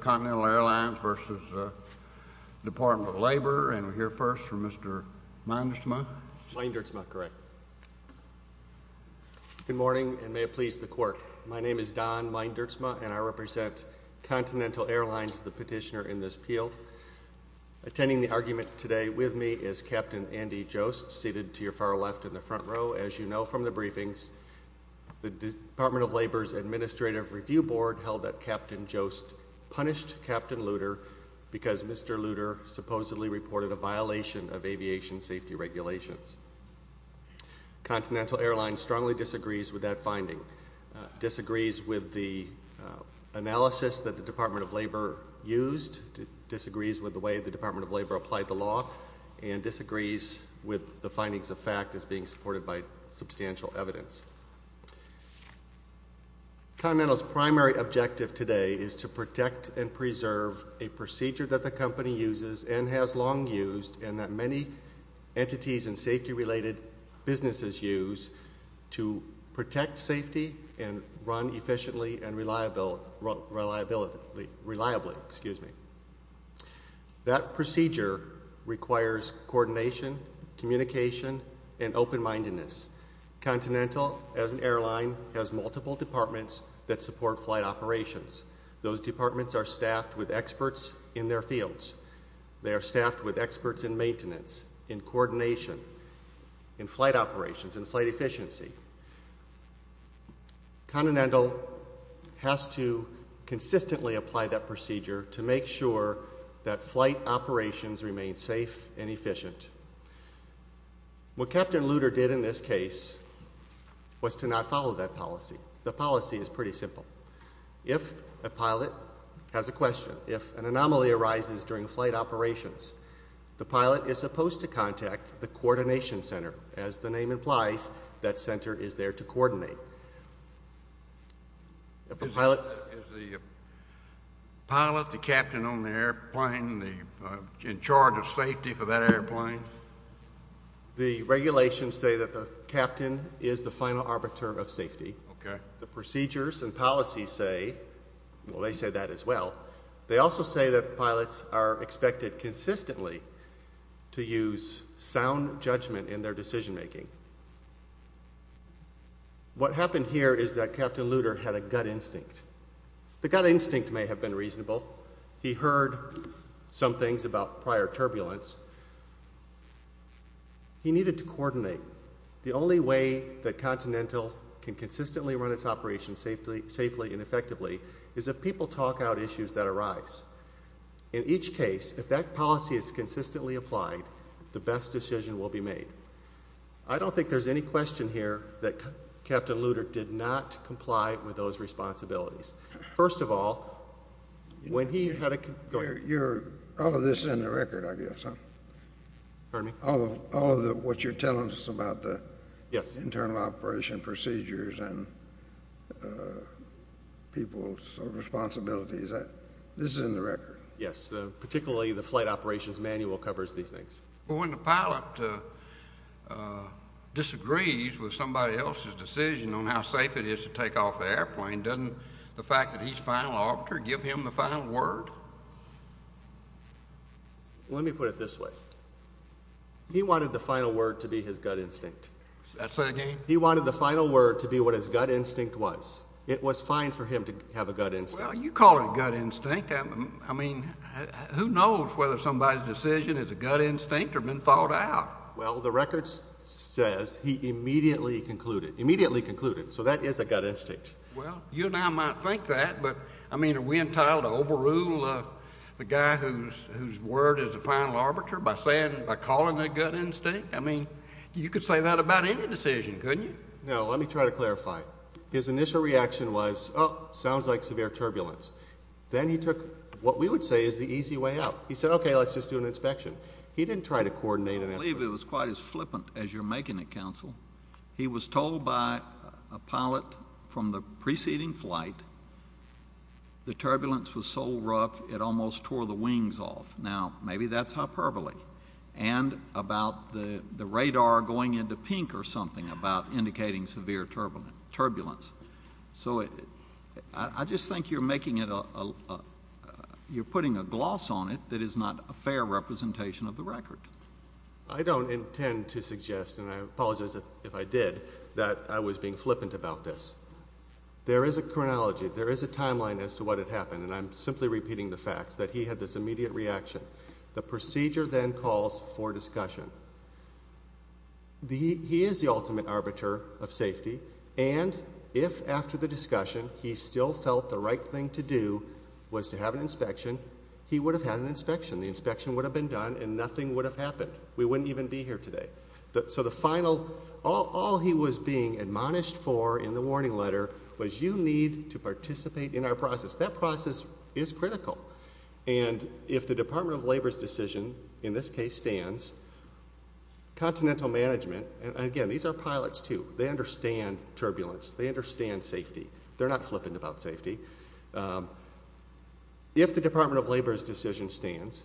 Continental Airlines v. Department of Labor, and we'll hear first from Mr. Meindertsma. Meindertsma, correct. Good morning, and may it please the Court. My name is Don Meindertsma, and I represent Continental Airlines, the petitioner in this appeal. Attending the argument today with me is Captain Andy Jost, seated to your far left in the front row. As you know from the briefings, the Department of Labor's administrative review board held that Captain Jost punished Captain Lutter because Mr. Lutter supposedly reported a violation of aviation safety regulations. Continental Airlines strongly disagrees with that finding, disagrees with the analysis that the Department of Labor used, disagrees with the way the Department of Labor applied the law, and disagrees with the findings of fact as being supported by substantial evidence. Continental's primary objective today is to protect and preserve a procedure that the company uses and has long used, and that many entities and safety-related businesses use to protect safety and run efficiently and reliably. That procedure requires coordination, communication, and open-mindedness. Continental, as an airline, has multiple departments that support flight operations. Those departments are staffed with experts in their fields. They are staffed with experts in maintenance, in coordination, in flight operations, in flight efficiency. Continental has to consistently apply that procedure to make sure that flight operations remain safe and efficient. What Captain Lutter did in this case was to not follow that policy. The policy is pretty simple. If a pilot has a question, if an anomaly arises during flight operations, the pilot is supposed to contact the coordination center. As the name implies, that center is there to coordinate. Is the pilot, the captain on the airplane, in charge of safety for that airplane? The regulations say that the captain is the final arbiter of safety. The procedures and policies say, well, they say that as well. They also say that pilots are expected consistently to use sound judgment in their decision-making. What happened here is that Captain Lutter had a gut instinct. The gut instinct may have been reasonable. He heard some things about prior turbulence. He needed to coordinate. The only way that Continental can consistently run its operations safely and effectively is if people talk out issues that arise. In each case, if that policy is consistently applied, the best decision will be made. I don't think there's any question here that Captain Lutter did not comply with those responsibilities. First of all, when he had a— All of this is in the record, I guess, huh? Pardon me? All of what you're telling us about the internal operation procedures and people's responsibilities, this is in the record? Yes, particularly the flight operations manual covers these things. When the pilot disagrees with somebody else's decision on how safe it is to take off the airplane, doesn't the fact that he's final orbiter give him the final word? Let me put it this way. He wanted the final word to be his gut instinct. Say that again? He wanted the final word to be what his gut instinct was. It was fine for him to have a gut instinct. Well, you call it gut instinct. I mean, who knows whether somebody's decision is a gut instinct or been thought out? Well, the record says he immediately concluded. Immediately concluded. So that is a gut instinct. Well, you and I might think that, but, I mean, are we entitled to overrule the guy whose word is the final orbiter by calling it gut instinct? I mean, you could say that about any decision, couldn't you? No, let me try to clarify. His initial reaction was, oh, sounds like severe turbulence. Then he took what we would say is the easy way out. He said, okay, let's just do an inspection. He didn't try to coordinate an inspection. I believe it was quite as flippant as you're making it, Counsel. He was told by a pilot from the preceding flight the turbulence was so rough it almost tore the wings off. Now, maybe that's hyperbole. And about the radar going into pink or something about indicating severe turbulence. So I just think you're putting a gloss on it that is not a fair representation of the record. I don't intend to suggest, and I apologize if I did, that I was being flippant about this. There is a chronology. There is a timeline as to what had happened, and I'm simply repeating the facts, that he had this immediate reaction. The procedure then calls for discussion. He is the ultimate arbiter of safety, and if after the discussion he still felt the right thing to do was to have an inspection, he would have had an inspection. The inspection would have been done and nothing would have happened. We wouldn't even be here today. So the final, all he was being admonished for in the warning letter was you need to participate in our process. That process is critical. And if the Department of Labor's decision in this case stands, Continental management, and again, these are pilots too. They understand turbulence. They understand safety. They're not flippant about safety. If the Department of Labor's decision stands,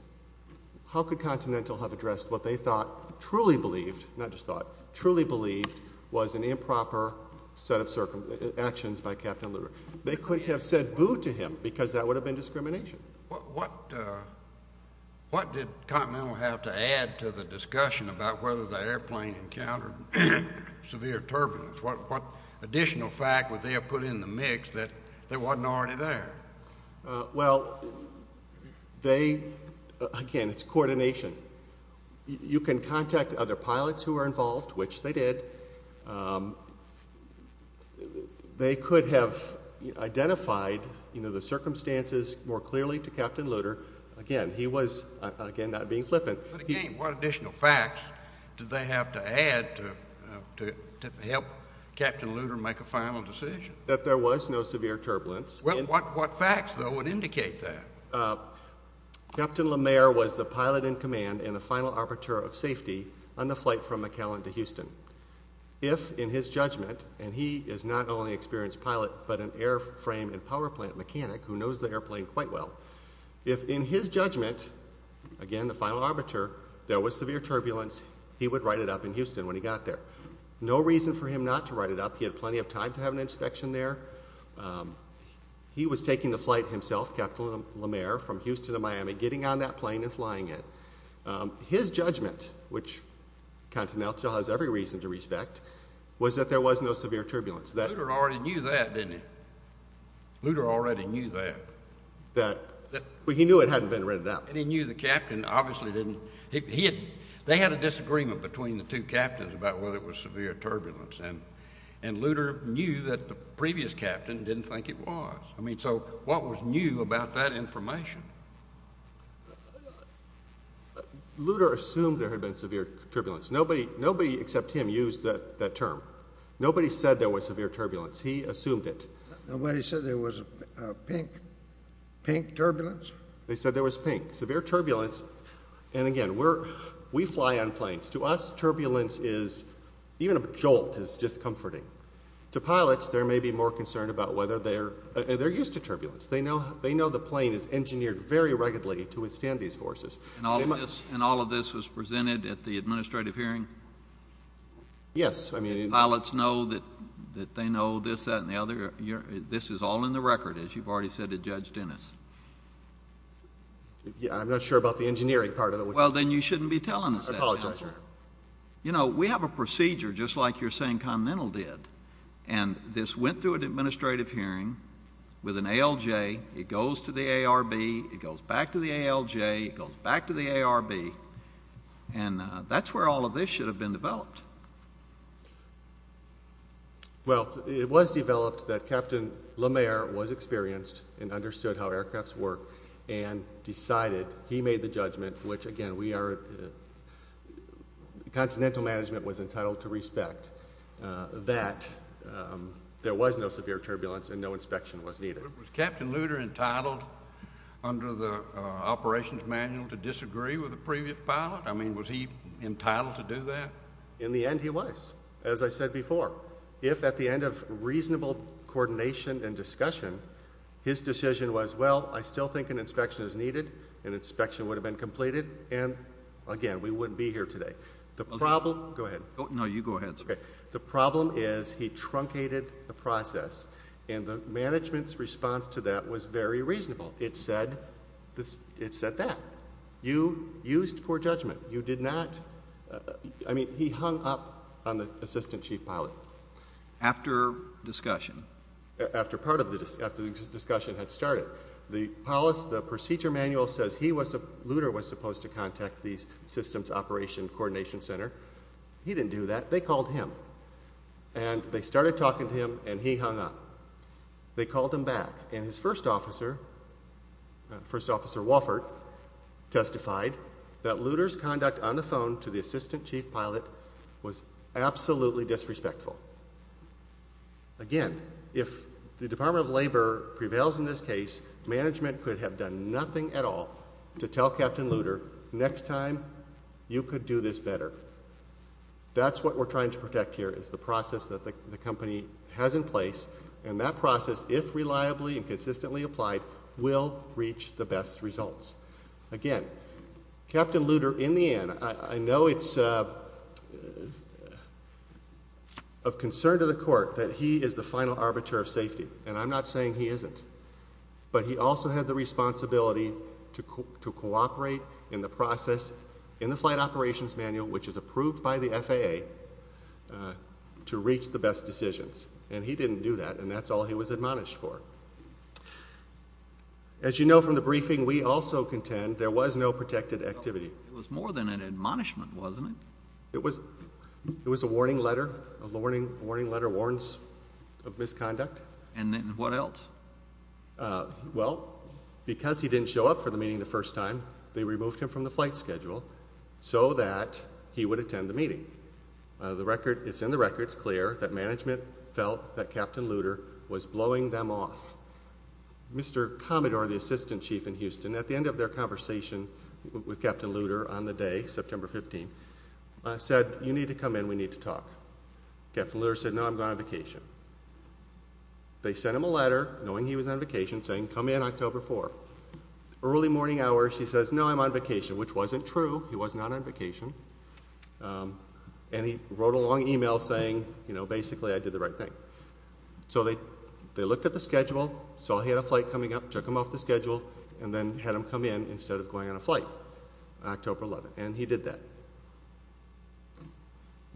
how could Continental have addressed what they thought, truly believed, not just thought, truly believed was an improper set of actions by Captain Lugar? They couldn't have said boo to him because that would have been discrimination. What did Continental have to add to the discussion about whether the airplane encountered severe turbulence? What additional fact would they have put in the mix that wasn't already there? Well, they, again, it's coordination. You can contact other pilots who were involved, which they did. They could have identified, you know, the circumstances more clearly to Captain Lugar. Again, he was, again, not being flippant. But again, what additional facts did they have to add to help Captain Lugar make a final decision? That there was no severe turbulence. Well, what facts, though, would indicate that? Captain LeMaire was the pilot in command and the final arbiter of safety on the flight from McAllen to Houston. If, in his judgment, and he is not only an experienced pilot but an airframe and powerplant mechanic who knows the airplane quite well, if in his judgment, again, the final arbiter, there was severe turbulence, he would write it up in Houston when he got there. No reason for him not to write it up. He had plenty of time to have an inspection there. He was taking the flight himself, Captain LeMaire, from Houston to Miami, getting on that plane and flying it. His judgment, which Captain Nelson has every reason to respect, was that there was no severe turbulence. Lugar already knew that, didn't he? Lugar already knew that. He knew it hadn't been written up. He knew the captain obviously didn't. They had a disagreement between the two captains about whether it was severe turbulence, and Lugar knew that the previous captain didn't think it was. I mean, so what was new about that information? Lugar assumed there had been severe turbulence. Nobody except him used that term. Nobody said there was severe turbulence. He assumed it. Nobody said there was pink turbulence? They said there was pink. Severe turbulence, and again, we fly on planes. To us, turbulence is, even a jolt is discomforting. To pilots, there may be more concern about whether they're used to turbulence. They know the plane is engineered very regularly to withstand these forces. And all of this was presented at the administrative hearing? Yes. Pilots know that they know this, that, and the other? This is all in the record, as you've already said to Judge Dennis. I'm not sure about the engineering part of it. I apologize, sir. You know, we have a procedure, just like you're saying Continental did, and this went through an administrative hearing with an ALJ. It goes to the ARB. It goes back to the ALJ. It goes back to the ARB. And that's where all of this should have been developed. Well, it was developed that Captain LeMaire was experienced and understood how aircrafts work and decided he made the judgment, which, again, Continental Management was entitled to respect, that there was no severe turbulence and no inspection was needed. Was Captain Luder entitled under the operations manual to disagree with the previous pilot? I mean, was he entitled to do that? In the end, he was, as I said before. If, at the end of reasonable coordination and discussion, an inspection would have been completed and, again, we wouldn't be here today. The problem—go ahead. No, you go ahead, sir. The problem is he truncated the process, and the management's response to that was very reasonable. It said that. You used poor judgment. You did not—I mean, he hung up on the assistant chief pilot. After discussion? After the discussion had started. The procedure manual says Luder was supposed to contact the Systems Operation Coordination Center. He didn't do that. They called him, and they started talking to him, and he hung up. They called him back, and his first officer, First Officer Wofford, testified that Luder's conduct on the phone to the assistant chief pilot was absolutely disrespectful. Again, if the Department of Labor prevails in this case, management could have done nothing at all to tell Captain Luder, next time you could do this better. That's what we're trying to protect here is the process that the company has in place, and that process, if reliably and consistently applied, will reach the best results. Again, Captain Luder, in the end, I know it's of concern to the court that he is the final arbiter of safety, and I'm not saying he isn't, but he also had the responsibility to cooperate in the process in the flight operations manual, which is approved by the FAA, to reach the best decisions, and he didn't do that, and that's all he was admonished for. As you know from the briefing, we also contend there was no protected activity. It was more than an admonishment, wasn't it? It was a warning letter, a warning letter of misconduct. And what else? Well, because he didn't show up for the meeting the first time, they removed him from the flight schedule so that he would attend the meeting. It's in the records, clear, that management felt that Captain Luder was blowing them off. Mr. Commodore, the assistant chief in Houston, at the end of their conversation with Captain Luder on the day, September 15, said, you need to come in, we need to talk. Captain Luder said, no, I'm going on vacation. They sent him a letter, knowing he was on vacation, saying, come in October 4. Early morning hours, he says, no, I'm on vacation, which wasn't true. He was not on vacation. And he wrote a long email saying, you know, basically I did the right thing. So they looked at the schedule, saw he had a flight coming up, took him off the schedule, and then had him come in instead of going on a flight, October 11. And he did that.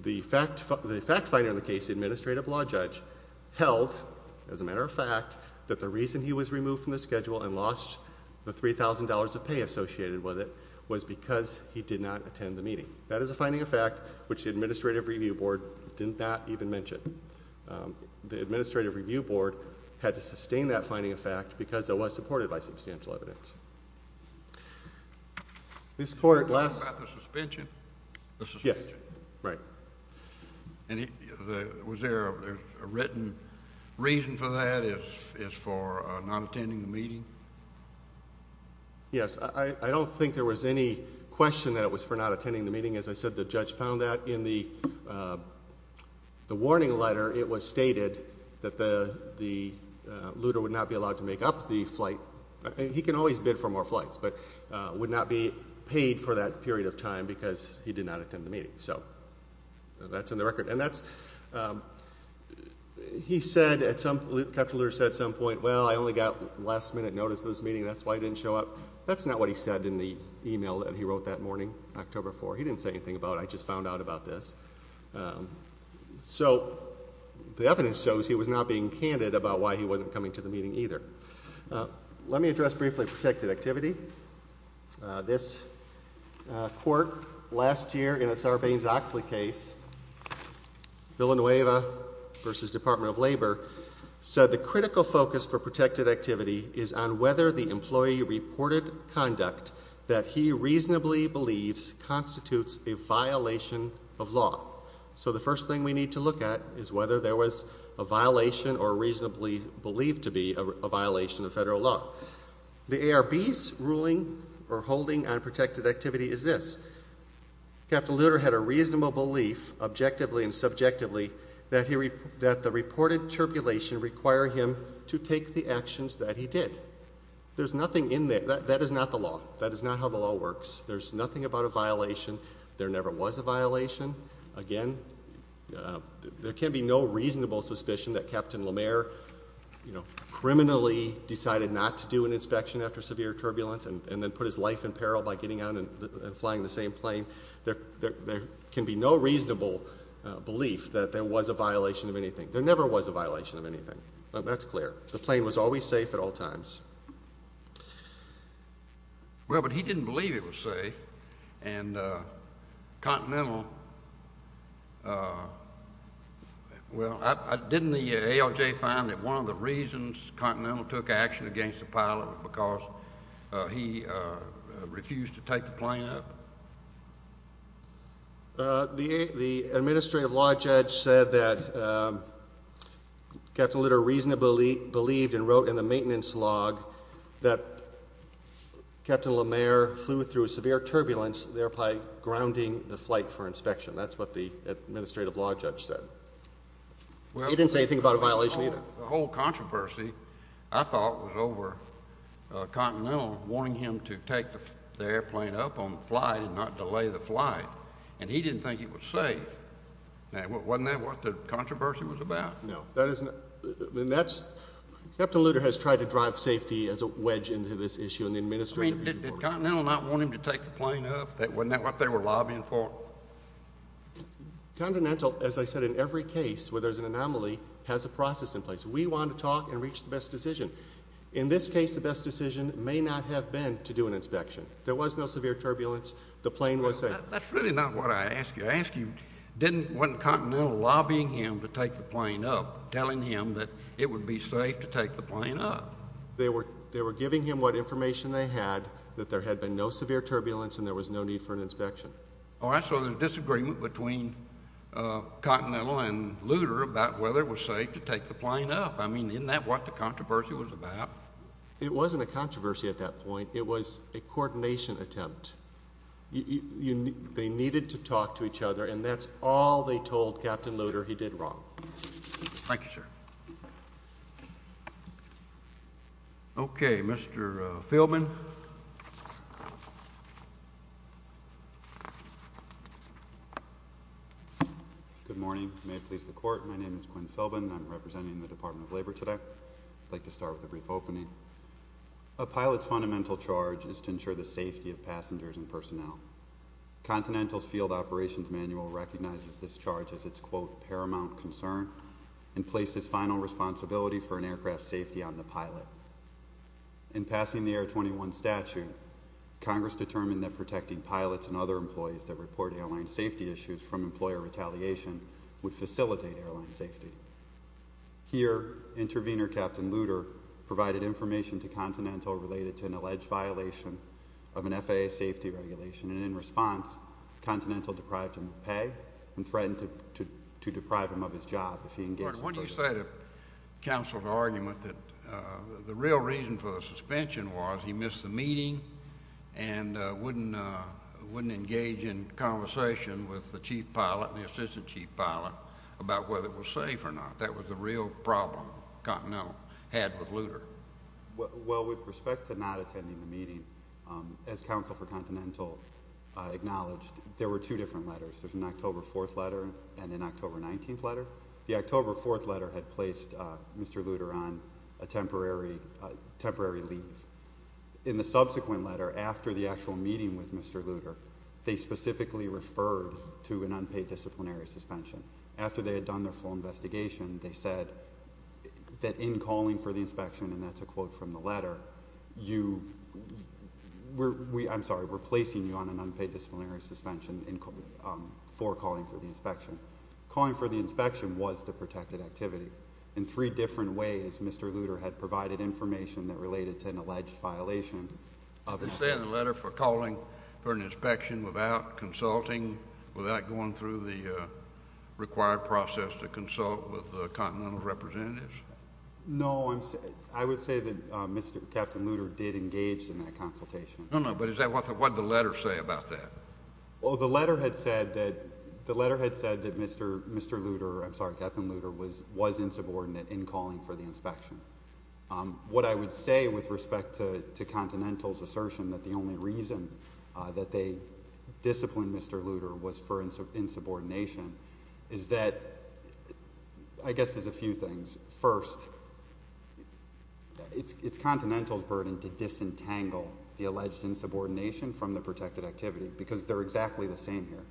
The fact finder in the case, the administrative law judge, held, as a matter of fact, that the reason he was removed from the schedule and lost the $3,000 of pay associated with it was because he did not attend the meeting. That is a finding of fact which the administrative review board did not even mention. The administrative review board had to sustain that finding of fact because it was supported by substantial evidence. Mr. Court, last ---- You're talking about the suspension? Yes, right. And was there a written reason for that is for not attending the meeting? Yes. I don't think there was any question that it was for not attending the meeting. As I said, the judge found that in the warning letter. It was stated that the looter would not be allowed to make up the flight. He can always bid for more flights, but would not be paid for that period of time because he did not attend the meeting. So that's in the record. And that's ---- He said at some ---- Captain Looter said at some point, well, I only got last minute notice of this meeting, that's why I didn't show up. That's not what he said in the e-mail that he wrote that morning, October 4. He didn't say anything about it. I just found out about this. So the evidence shows he was not being candid about why he wasn't coming to the meeting either. Let me address briefly protected activity. This court last year in a Sarbanes-Oxley case, Villanueva v. Department of Labor, said the critical focus for protected activity is on whether the employee reported conduct that he reasonably believes constitutes a violation of law. So the first thing we need to look at is whether there was a violation or reasonably believed to be a violation of federal law. The ARB's ruling or holding on protected activity is this. Captain Looter had a reasonable belief, objectively and subjectively, that the reported turbulation required him to take the actions that he did. There's nothing in there. That is not the law. That is not how the law works. There's nothing about a violation. There never was a violation. Again, there can be no reasonable suspicion that Captain Lemaire criminally decided not to do an inspection after severe turbulence and then put his life in peril by getting on and flying the same plane. There can be no reasonable belief that there was a violation of anything. There never was a violation of anything. That's clear. The plane was always safe at all times. Well, but he didn't believe it was safe. And Continental, well, didn't the ALJ find that one of the reasons Continental took action against the pilot was because he refused to take the plane up? The administrative law judge said that Captain Looter reasonably believed and wrote in the maintenance log that Captain Lemaire flew through severe turbulence, thereby grounding the flight for inspection. That's what the administrative law judge said. He didn't say anything about a violation either. The whole controversy, I thought, was over Continental wanting him to take the airplane up on the flight and not delay the flight, and he didn't think it was safe. Wasn't that what the controversy was about? No. Captain Looter has tried to drive safety as a wedge into this issue in the administrative report. Did Continental not want him to take the plane up? Wasn't that what they were lobbying for? Continental, as I said, in every case where there's an anomaly, has a process in place. We want to talk and reach the best decision. In this case, the best decision may not have been to do an inspection. There was no severe turbulence. The plane was safe. That's really not what I asked you. Wasn't Continental lobbying him to take the plane up, telling him that it would be safe to take the plane up? They were giving him what information they had, that there had been no severe turbulence and there was no need for an inspection. So there's a disagreement between Continental and Looter about whether it was safe to take the plane up. I mean, isn't that what the controversy was about? It wasn't a controversy at that point. It was a coordination attempt. They needed to talk to each other, and that's all they told Captain Looter. He did wrong. Thank you, sir. Okay, Mr. Philbin. Good morning. May it please the Court, my name is Quinn Philbin. I'm representing the Department of Labor today. I'd like to start with a brief opening. A pilot's fundamental charge is to ensure the safety of passengers and personnel. Continental's field operations manual recognizes this charge as its, quote, paramount concern and places final responsibility for an aircraft's safety on the pilot. In passing the Air 21 statute, Congress determined that protecting pilots and other employees that report airline safety issues from employer retaliation would facilitate airline safety. Here, intervener Captain Looter provided information to Continental related to an alleged violation of an FAA safety regulation, and in response, Continental deprived him of pay and threatened to deprive him of his job. What do you say to counsel's argument that the real reason for the suspension was he missed the meeting and wouldn't engage in conversation with the chief pilot and the assistant chief pilot about whether it was safe or not? That was the real problem Continental had with Looter. Well, with respect to not attending the meeting, as counsel for Continental acknowledged, there were two different letters. There's an October 4th letter and an October 19th letter. The October 4th letter had placed Mr. Looter on a temporary leave. In the subsequent letter, after the actual meeting with Mr. Looter, they specifically referred to an unpaid disciplinary suspension. After they had done their full investigation, they said that in calling for the inspection, and that's a quote from the letter, we're placing you on an unpaid disciplinary suspension for calling for the inspection. Calling for the inspection was the protected activity. In three different ways, Mr. Looter had provided information that related to an alleged violation. You're saying the letter for calling for an inspection without consulting, without going through the required process to consult with the Continental representatives? No, I would say that Captain Looter did engage in that consultation. No, no, but what did the letter say about that? Well, the letter had said that Mr. Looter, I'm sorry, Captain Looter, was insubordinate in calling for the inspection. What I would say with respect to Continental's assertion that the only reason that they disciplined Mr. Looter was for insubordination is that I guess there's a few things. First, it's Continental's burden to disentangle the alleged insubordination from the protected activity because they're exactly the same here.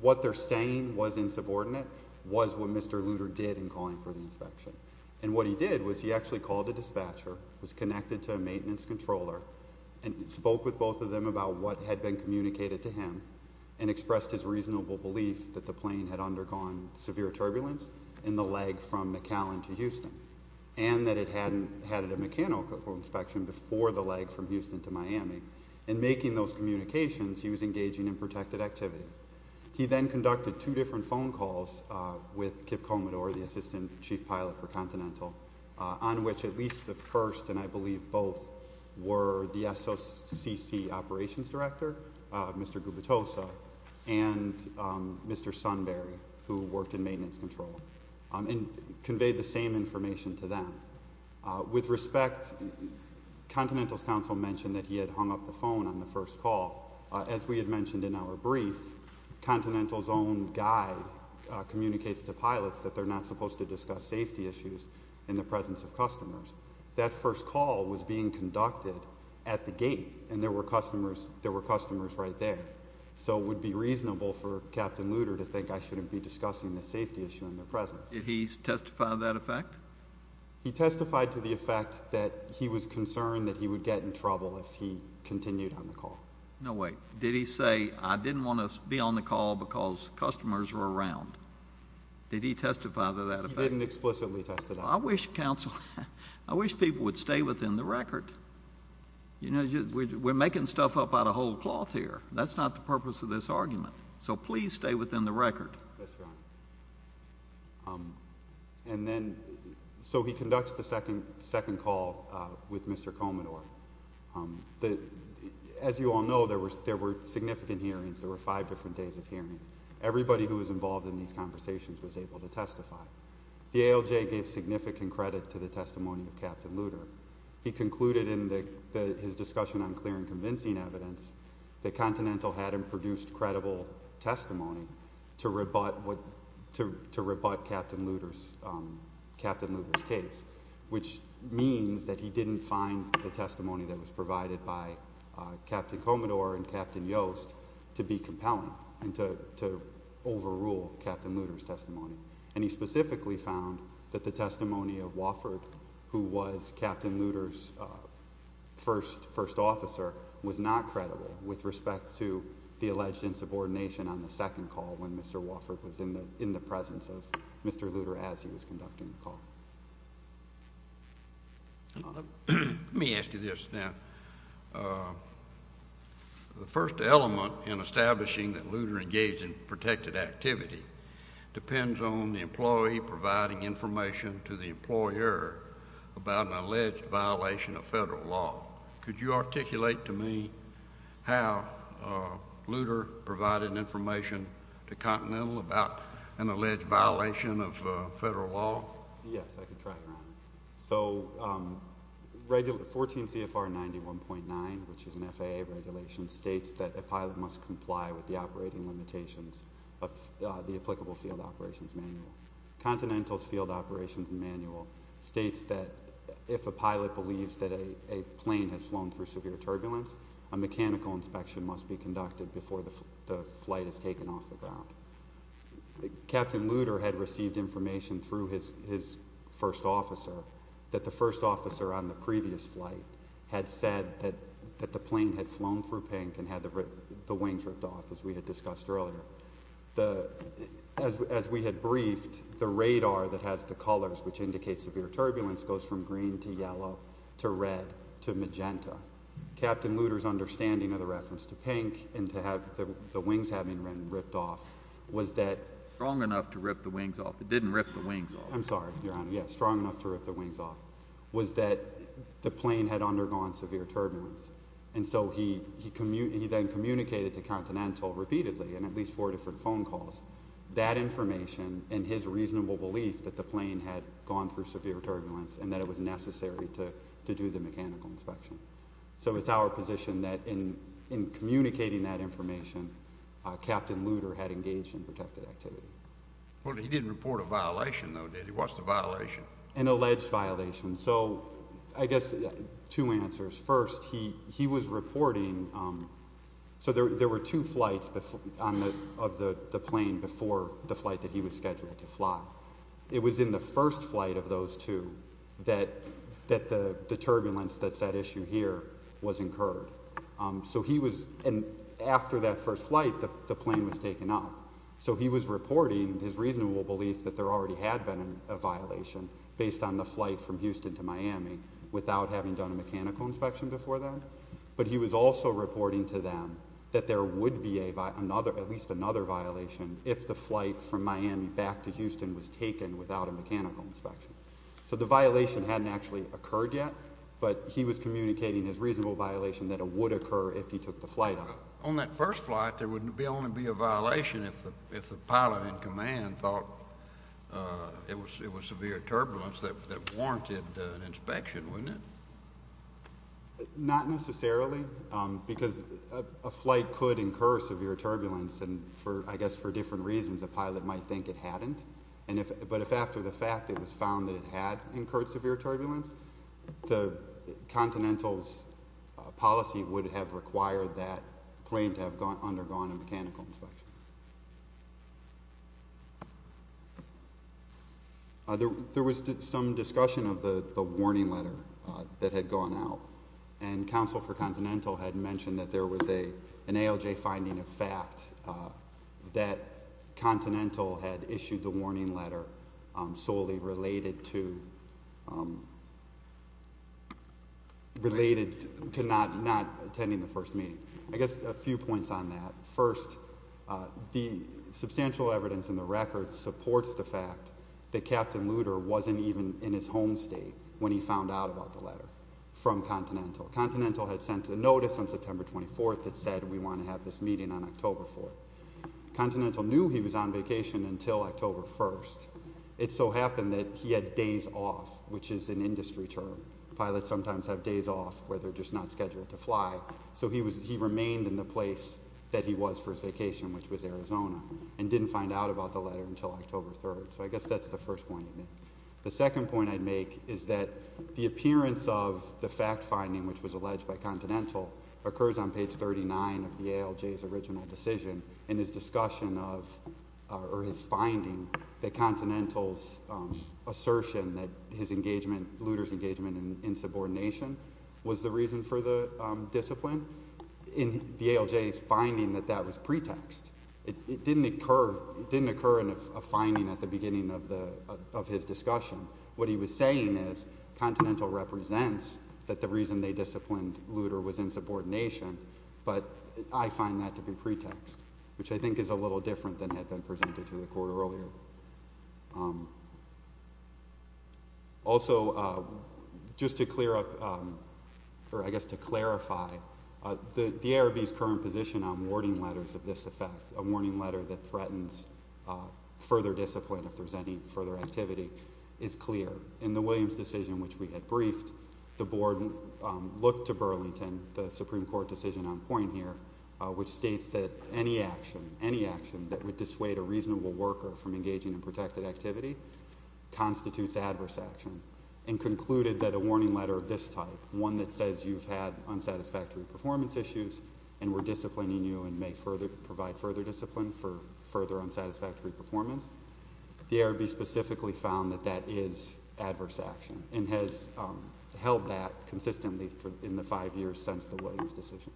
What they're saying was insubordinate was what Mr. Looter did in calling for the inspection. And what he did was he actually called a dispatcher, was connected to a maintenance controller, and spoke with both of them about what had been communicated to him and expressed his reasonable belief that the plane had undergone severe turbulence in the leg from McAllen to Houston and that it had a mechanical inspection before the leg from Houston to Miami. In making those communications, he was engaging in protected activity. He then conducted two different phone calls with Kip Comador, the assistant chief pilot for Continental, on which at least the first, and I believe both, were the SOCC operations director, Mr. Gubitosa, and Mr. Sunbury, who worked in maintenance control, and conveyed the same information to them. With respect, Continental's counsel mentioned that he had hung up the phone on the first call. As we had mentioned in our brief, Continental's own guide communicates to pilots that they're not supposed to discuss safety issues in the presence of customers. That first call was being conducted at the gate, and there were customers right there, so it would be reasonable for Captain Looter to think I shouldn't be discussing the safety issue in their presence. Did he testify to that effect? He testified to the effect that he was concerned that he would get in trouble if he continued on the call. No way. Did he say, I didn't want to be on the call because customers were around? Did he testify to that effect? He didn't explicitly testify. I wish people would stay within the record. We're making stuff up out of whole cloth here. So he conducts the second call with Mr. Comidor. As you all know, there were significant hearings. There were five different days of hearings. Everybody who was involved in these conversations was able to testify. The ALJ gave significant credit to the testimony of Captain Looter. He concluded in his discussion on clear and convincing evidence that Continental had him produce credible testimony to rebut Captain Looter's case, which means that he didn't find the testimony that was provided by Captain Comidor and Captain Yost to be compelling and to overrule Captain Looter's testimony. And he specifically found that the testimony of Wofford, who was Captain Looter's first officer, was not credible with respect to the alleged insubordination on the second call when Mr. Wofford was in the presence of Mr. Looter as he was conducting the call. Let me ask you this now. The first element in establishing that Looter engaged in protected activity depends on the employee providing information to the employer about an alleged violation of federal law. Could you articulate to me how Looter provided information to Continental about an alleged violation of federal law? Yes, I can try to remind you. So 14 CFR 91.9, which is an FAA regulation, states that a pilot must comply with the operating limitations of the applicable field operations manual. Continental's field operations manual states that if a pilot believes that a plane has flown through severe turbulence, a mechanical inspection must be conducted before the flight is taken off the ground. Captain Looter had received information through his first officer that the first officer on the previous flight had said that the plane had flown through pink and had the wings ripped off, as we had discussed earlier. As we had briefed, the radar that has the colors which indicate severe turbulence goes from green to yellow to red to magenta. Captain Looter's understanding of the reference to pink and to have the wings having been ripped off was that— Strong enough to rip the wings off. It didn't rip the wings off. I'm sorry, Your Honor. Yes, strong enough to rip the wings off, was that the plane had undergone severe turbulence. And so he then communicated to Continental repeatedly in at least four different phone calls that information and his reasonable belief that the plane had gone through severe turbulence and that it was necessary to do the mechanical inspection. So it's our position that in communicating that information, Captain Looter had engaged in protected activity. Well, he didn't report a violation, though, did he? What's the violation? An alleged violation. So I guess two answers. First, he was reporting—so there were two flights of the plane before the flight that he was scheduled to fly. It was in the first flight of those two that the turbulence that's at issue here was incurred. So he was—and after that first flight, the plane was taken up. So he was reporting his reasonable belief that there already had been a violation based on the flight from Houston to Miami without having done a mechanical inspection before then. But he was also reporting to them that there would be at least another violation if the flight from Miami back to Houston was taken without a mechanical inspection. So the violation hadn't actually occurred yet, but he was communicating his reasonable violation that it would occur if he took the flight up. On that first flight, there would only be a violation if the pilot in command thought it was severe turbulence that warranted an inspection, wouldn't it? Not necessarily, because a flight could incur severe turbulence, and I guess for different reasons a pilot might think it hadn't. But if after the fact it was found that it had incurred severe turbulence, the Continental's policy would have required that plane to have undergone a mechanical inspection. There was some discussion of the warning letter that had gone out, and Counsel for Continental had mentioned that there was an ALJ finding of fact that Continental had issued the warning letter solely related to not attending the first meeting. I guess a few points on that. First, the substantial evidence in the record supports the fact that Captain Lutter wasn't even in his home state when he found out about the letter from Continental. Continental had sent a notice on September 24th that said we want to have this meeting on October 4th. Continental knew he was on vacation until October 1st. It so happened that he had days off, which is an industry term. Pilots sometimes have days off where they're just not scheduled to fly. So he remained in the place that he was for his vacation, which was Arizona, and didn't find out about the letter until October 3rd. So I guess that's the first point he made. The second point I'd make is that the appearance of the fact finding, which was alleged by Continental, occurs on page 39 of the ALJ's original decision in his finding that Continental's assertion that Lutter's engagement in subordination was the reason for the discipline in the ALJ's finding that that was pretext. It didn't occur in a finding at the beginning of his discussion. What he was saying is Continental represents that the reason they disciplined Lutter was insubordination, but I find that to be pretext, which I think is a little different than had been presented to the court earlier. Also, just to clear up, or I guess to clarify, the ARB's current position on warning letters of this effect, a warning letter that threatens further discipline if there's any further activity, is clear. In the Williams decision, which we had briefed, the board looked to Burlington, the Supreme Court decision on point here, which states that any action, any action that would dissuade a reasonable worker from engaging in protected activity constitutes adverse action, and concluded that a warning letter of this type, one that says you've had unsatisfactory performance issues and we're disciplining you and may provide further discipline for further unsatisfactory performance, the ARB specifically found that that is adverse action, and has held that consistently in the five years since the Williams decision.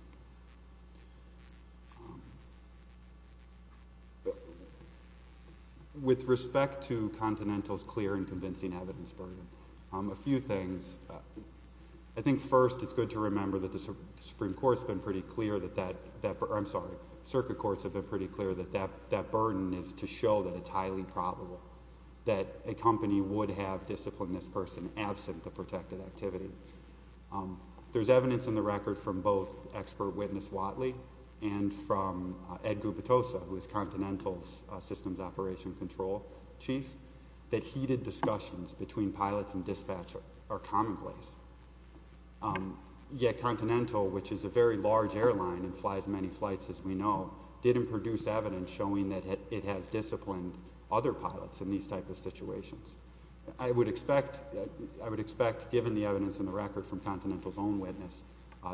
With respect to Continental's clear and convincing evidence burden, a few things. I think first it's good to remember that the Supreme Court's been pretty clear that that, I'm sorry, circuit courts have been pretty clear that that burden is to show that it's highly probable that a company would have disciplined this person absent the protected activity. There's evidence in the record from both expert witness Watley and from Ed Gubitosa, who is Continental's systems operation control chief, that heated discussions between pilots and dispatch are commonplace. Yet Continental, which is a very large airline and flies many flights as we know, didn't produce evidence showing that it has disciplined other pilots in these type of situations. I would expect, given the evidence in the record from Continental's own witness,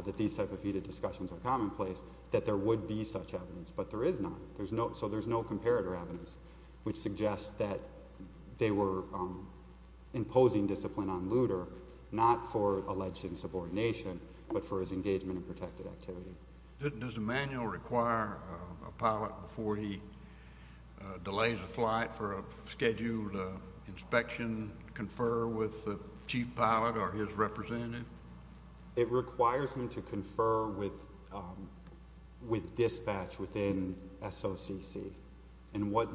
that these type of heated discussions are commonplace, that there would be such evidence, but there is not. So there's no comparator evidence which suggests that they were imposing discipline on Luder, not for alleged insubordination, but for his engagement in protected activity. Does Emanuel require a pilot before he delays a flight for a scheduled inspection to confer with the chief pilot or his representative? It requires him to confer with dispatch within SOCC. And what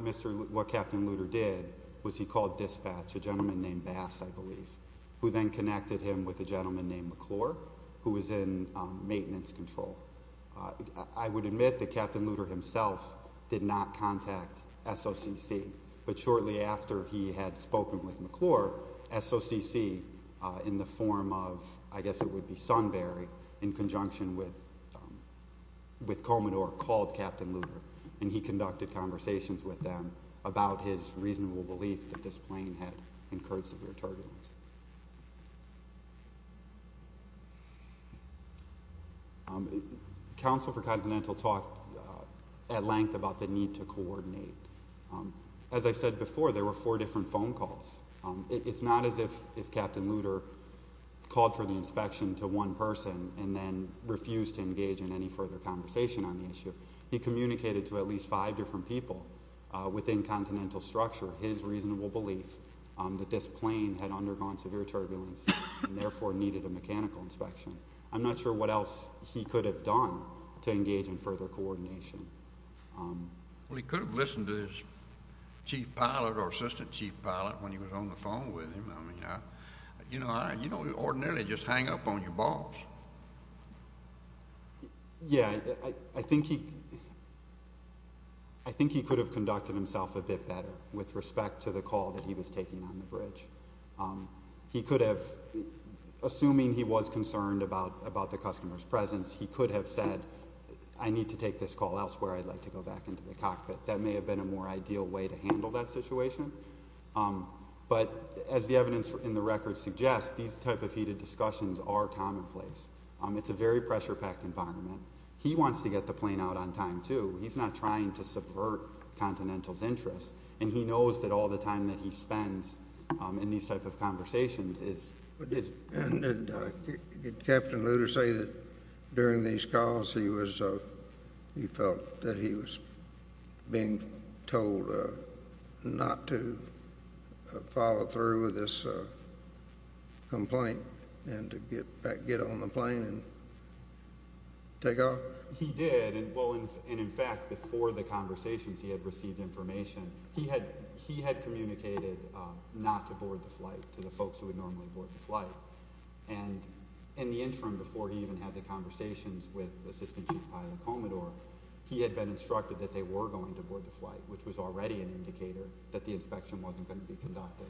Captain Luder did was he called dispatch, a gentleman named Bass, I believe, who then connected him with a gentleman named McClure, who was in maintenance control. I would admit that Captain Luder himself did not contact SOCC, but shortly after he had spoken with McClure, SOCC, in the form of, I guess it would be Sunbury, in conjunction with Commodore, called Captain Luder, and he conducted conversations with them about his reasonable belief that this plane had incurred severe turbulence. Counsel for Continental talked at length about the need to coordinate. As I said before, there were four different phone calls. It's not as if Captain Luder called for the inspection to one person and then refused to engage in any further conversation on the issue. He communicated to at least five different people within Continental structure his reasonable belief that this plane had undergone severe turbulence and therefore needed a mechanical inspection. I'm not sure what else he could have done to engage in further coordination. He could have listened to his chief pilot or assistant chief pilot when he was on the phone with him. You don't ordinarily just hang up on your boss. Yeah, I think he could have conducted himself a bit better with respect to the call that he was taking on the bridge. He could have, assuming he was concerned about the customer's presence, he could have said, I need to take this call elsewhere. I'd like to go back into the cockpit. That may have been a more ideal way to handle that situation. But as the evidence in the record suggests, these type of heated discussions are commonplace. It's a very pressure-packed environment. He wants to get the plane out on time, too. He's not trying to subvert Continental's interests, and he knows that all the time that he spends in these type of conversations is his. Did Captain Lutter say that during these calls he felt that he was being told not to follow through with this complaint and to get on the plane and take off? He did. In fact, before the conversations, he had received information. He had communicated not to board the flight to the folks who would normally board the flight. And in the interim, before he even had the conversations with Assistant Chief Pilot Comedor, he had been instructed that they were going to board the flight, which was already an indicator that the inspection wasn't going to be conducted.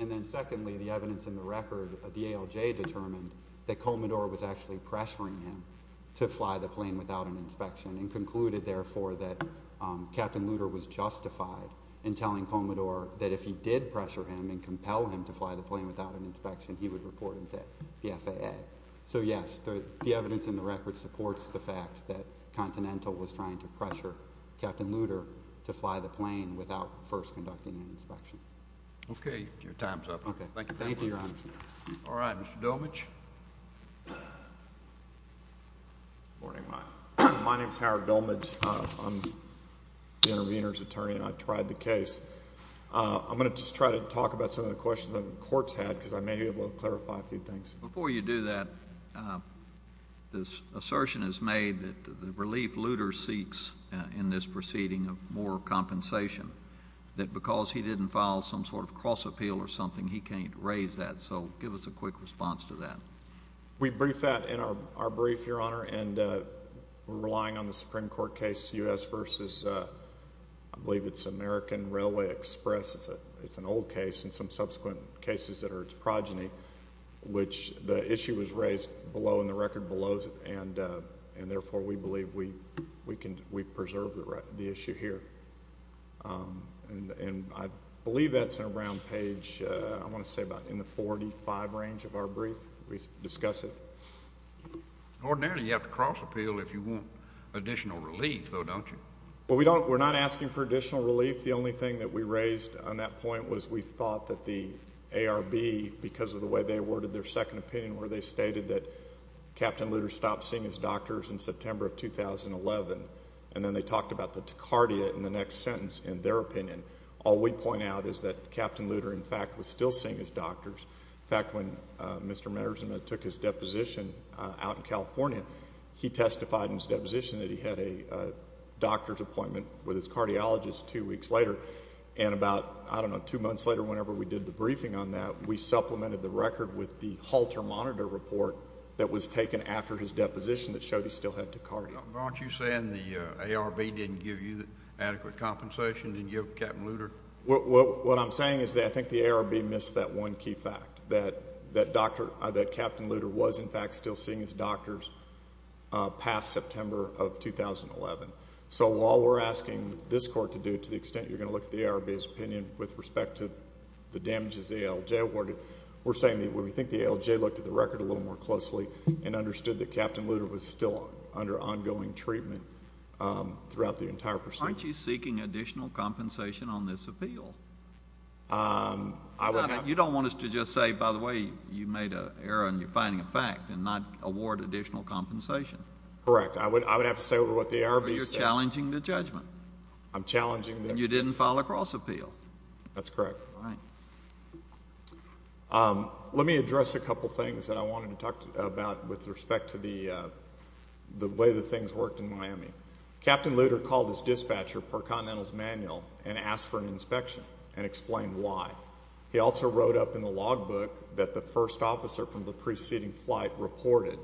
And then secondly, the evidence in the record, the ALJ determined that Comedor was actually pressuring him to fly the plane without an inspection and concluded, therefore, that Captain Lutter was justified in telling Comedor that if he did pressure him and compel him to fly the plane without an inspection, he would report him to the FAA. So, yes, the evidence in the record supports the fact that Continental was trying to pressure Captain Lutter to fly the plane without first conducting an inspection. Okay, your time's up. Okay, thank you, Your Honor. All right, Mr. Domich. Good morning. My name's Howard Domich. I'm the intervener's attorney, and I've tried the case. I'm going to just try to talk about some of the questions that the Court's had because I may be able to clarify a few things. Before you do that, this assertion is made that the relief Lutter seeks in this proceeding of more compensation, that because he didn't file some sort of cross-appeal or something, he can't raise that. So give us a quick response to that. We briefed that in our brief, Your Honor, and we're relying on the Supreme Court case U.S. v. I believe it's American Railway Express. It's an old case and some subsequent cases that are its progeny, which the issue was raised below in the record below, and therefore we believe we preserve the issue here. And I believe that's around page, I want to say about in the 45 range of our brief. We discuss it. Ordinarily, you have to cross-appeal if you want additional relief, though, don't you? Well, we're not asking for additional relief. The only thing that we raised on that point was we thought that the ARB, because of the way they worded their second opinion where they stated that Captain Lutter stopped seeing his doctors in September of 2011, and then they talked about the tachycardia in the next sentence in their opinion. All we point out is that Captain Lutter, in fact, was still seeing his doctors. In fact, when Mr. Marzen took his deposition out in California, he testified in his deposition that he had a doctor's appointment with his cardiologist two weeks later. And about, I don't know, two months later, whenever we did the briefing on that, we supplemented the record with the halter monitor report that was taken after his deposition that showed he still had tachycardia. But aren't you saying the ARB didn't give you adequate compensation? Didn't you have Captain Lutter? What I'm saying is that I think the ARB missed that one key fact, that Captain Lutter was, in fact, still seeing his doctors past September of 2011. So while we're asking this Court to do it to the extent you're going to look at the ARB's opinion with respect to the damages the ALJ awarded, we're saying that we think the ALJ looked at the record a little more closely and understood that Captain Lutter was still under ongoing treatment throughout the entire procedure. Aren't you seeking additional compensation on this appeal? You don't want us to just say, by the way, you made an error and you're finding a fact and not award additional compensation. Correct. I would have to say what the ARB said. But you're challenging the judgment. I'm challenging the judgment. And you didn't file a cross appeal. That's correct. Let me address a couple things that I wanted to talk about with respect to the way that things worked in Miami. Captain Lutter called his dispatcher per Continental's manual and asked for an inspection and explained why. He also wrote up in the logbook that the first officer from the preceding flight reported.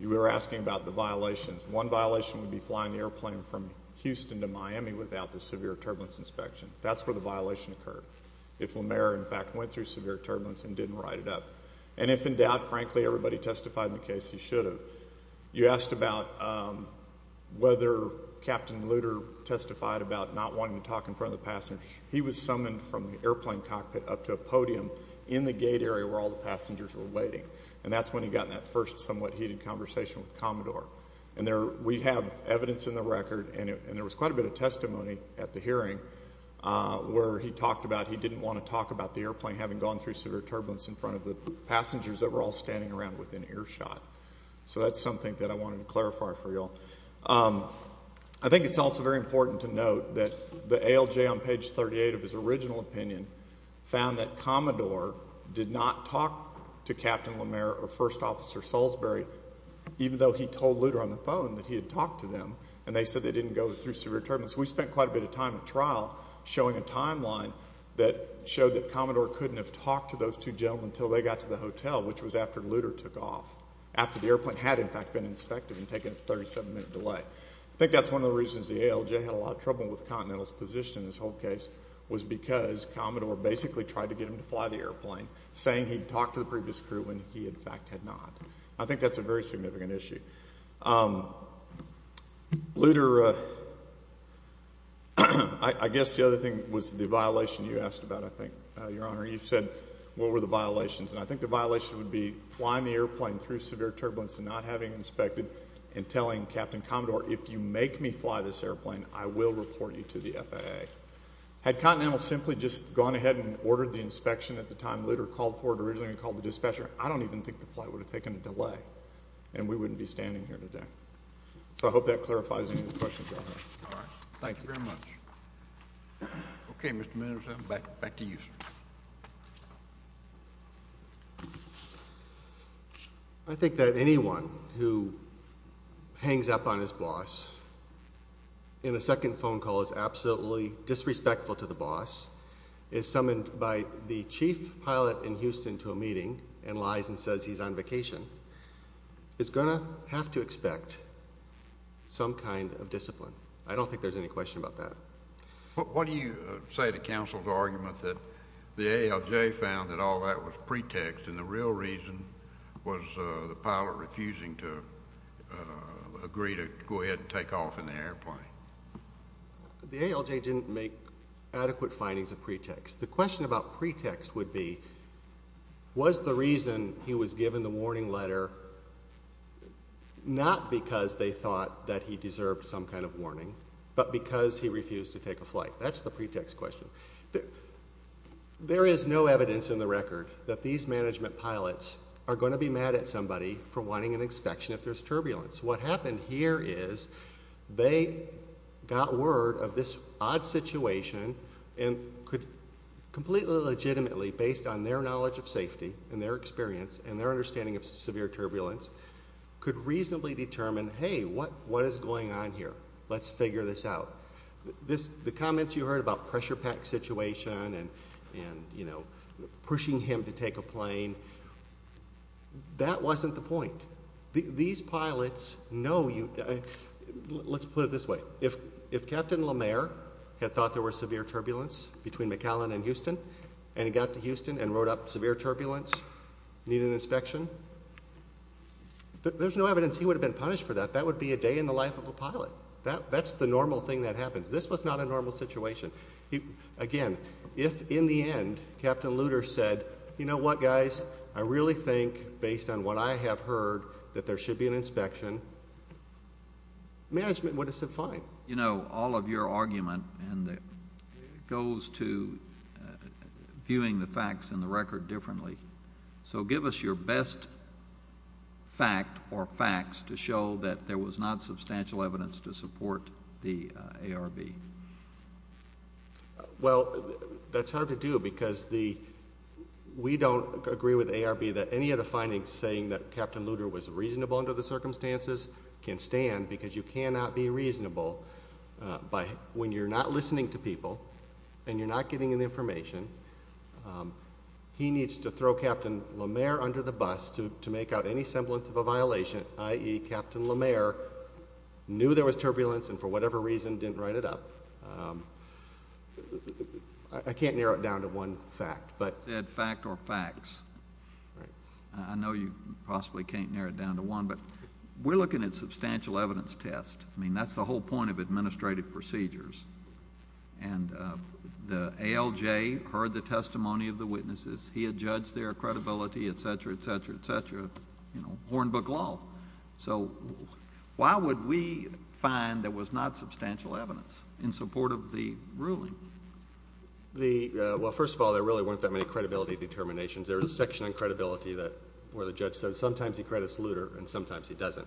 You were asking about the violations. One violation would be flying the airplane from Houston to Miami without the severe turbulence inspection. That's where the violation occurred. If LeMaire, in fact, went through severe turbulence and didn't write it up. And if in doubt, frankly, everybody testified in the case he should have. You asked about whether Captain Lutter testified about not wanting to talk in front of the passenger. He was summoned from the airplane cockpit up to a podium in the gate area where all the passengers were waiting. And that's when he got in that first somewhat heated conversation with Commodore. We have evidence in the record, and there was quite a bit of testimony at the hearing, where he talked about he didn't want to talk about the airplane having gone through severe turbulence in front of the passengers that were all standing around with an earshot. So that's something that I wanted to clarify for you all. I think it's also very important to note that the ALJ on page 38 of his original opinion found that Commodore did not talk to Captain LeMaire or First Officer Salisbury even though he told Lutter on the phone that he had talked to them, and they said they didn't go through severe turbulence. We spent quite a bit of time at trial showing a timeline that showed that Commodore couldn't have talked to those two gentlemen until they got to the hotel, which was after Lutter took off, after the airplane had, in fact, been inspected and taken its 37-minute delay. I think that's one of the reasons the ALJ had a lot of trouble with Continental's position in this whole case was because Commodore basically tried to get him to fly the airplane, saying he'd talked to the previous crew when he, in fact, had not. I think that's a very significant issue. Lutter, I guess the other thing was the violation you asked about, I think, Your Honor. You said, what were the violations? And I think the violation would be flying the airplane through severe turbulence and not having inspected and telling Captain Commodore, if you make me fly this airplane, I will report you to the FAA. Had Continental simply just gone ahead and ordered the inspection at the time Lutter called for it and called the dispatcher, I don't even think the flight would have taken a delay and we wouldn't be standing here today. So I hope that clarifies any of the questions, Your Honor. All right. Thank you very much. Okay, Mr. Minnesota, back to you, sir. I think that anyone who hangs up on his boss in a second phone call is absolutely disrespectful to the boss, is summoned by the chief pilot in Houston to a meeting and lies and says he's on vacation, is going to have to expect some kind of discipline. I don't think there's any question about that. What do you say to counsel's argument that the ALJ found that all that was pretext and the real reason was the pilot refusing to agree to go ahead and take off in the airplane? The ALJ didn't make adequate findings of pretext. The question about pretext would be, was the reason he was given the warning letter not because they thought that he deserved some kind of warning, but because he refused to take a flight? That's the pretext question. There is no evidence in the record that these management pilots are going to be mad at somebody for wanting an inspection if there's turbulence. What happened here is they got word of this odd situation and could completely legitimately, based on their knowledge of safety and their experience and their understanding of severe turbulence, could reasonably determine, hey, what is going on here? Let's figure this out. The comments you heard about pressure pack situation and pushing him to take a plane, that wasn't the point. These pilots know you... Let's put it this way. If Captain Lemaire had thought there was severe turbulence between McAllen and Houston and he got to Houston and wrote up severe turbulence, need an inspection, there's no evidence he would have been punished for that. That would be a day in the life of a pilot. That's the normal thing that happens. This was not a normal situation. Again, if in the end Captain Lutter said, you know what, guys, I really think, based on what I have heard, that there should be an inspection, management would have said fine. You know, all of your argument goes to viewing the facts in the record differently. So give us your best fact or facts to show that there was not substantial evidence to support the ARB. Well, that's hard to do because we don't agree with ARB that any of the findings saying that Captain Lutter was reasonable under the circumstances can stand because you cannot be reasonable when you're not listening to people and you're not getting any information. He needs to throw Captain Lemaire under the bus to make out any semblance of a violation, i.e., Captain Lemaire knew there was turbulence and for whatever reason didn't write it up. I can't narrow it down to one fact. I said fact or facts. I know you possibly can't narrow it down to one, but we're looking at a substantial evidence test. I mean, that's the whole point of administrative procedures. And the ALJ heard the testimony of the witnesses. He had judged their credibility, et cetera, et cetera, et cetera. You know, Hornbook law. So why would we find there was not substantial evidence in support of the ruling? Well, first of all, there really weren't that many credibility determinations. There was a section on credibility where the judge said sometimes he credits Lutter and sometimes he doesn't.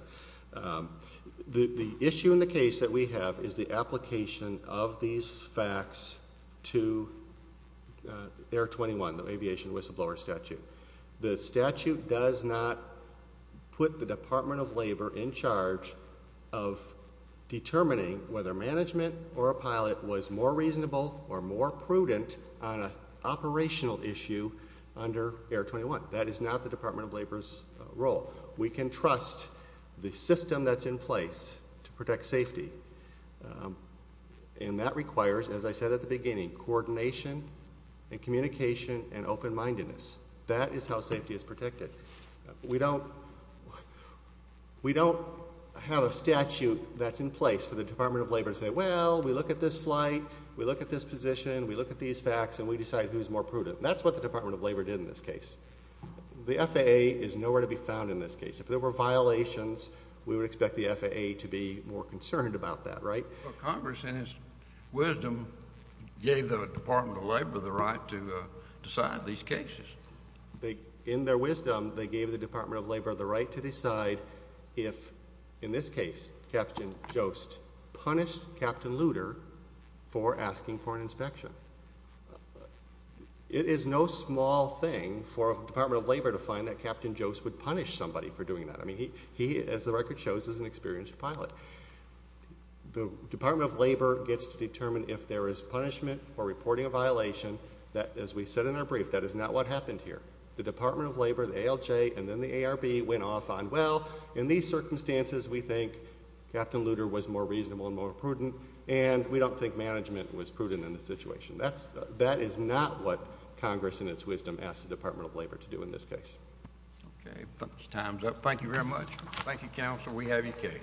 The issue in the case that we have is the application of these facts to Air 21, the aviation whistleblower statute. The statute does not put the Department of Labor in charge of determining whether management or a pilot was more reasonable or more prudent on an operational issue under Air 21. That is not the Department of Labor's role. We can trust the system that's in place to protect safety, and that requires, as I said at the beginning, coordination and communication and open-mindedness. That is how safety is protected. We don't have a statute that's in place for the Department of Labor to say, well, we look at this flight, we look at this position, we look at these facts, and we decide who's more prudent. That's what the Department of Labor did in this case. The FAA is nowhere to be found in this case. If there were violations, we would expect the FAA to be more concerned about that, right? Well, Congress, in its wisdom, gave the Department of Labor the right to decide these cases. In their wisdom, they gave the Department of Labor the right to decide if, in this case, Captain Jost punished Captain Luder for asking for an inspection. It is no small thing for a Department of Labor to find that Captain Jost would punish somebody for doing that. I mean, he, as the record shows, is an experienced pilot. The Department of Labor gets to determine if there is punishment for reporting a violation. As we said in our brief, that is not what happened here. The Department of Labor, the ALJ, and then the ARB went off on, well, in these circumstances we think Captain Luder was more reasonable and more prudent, and we don't think management was prudent in this situation. That is not what Congress, in its wisdom, asked the Department of Labor to do in this case. Okay. Time's up. Thank you very much. Thank you, Counsel. We have your case.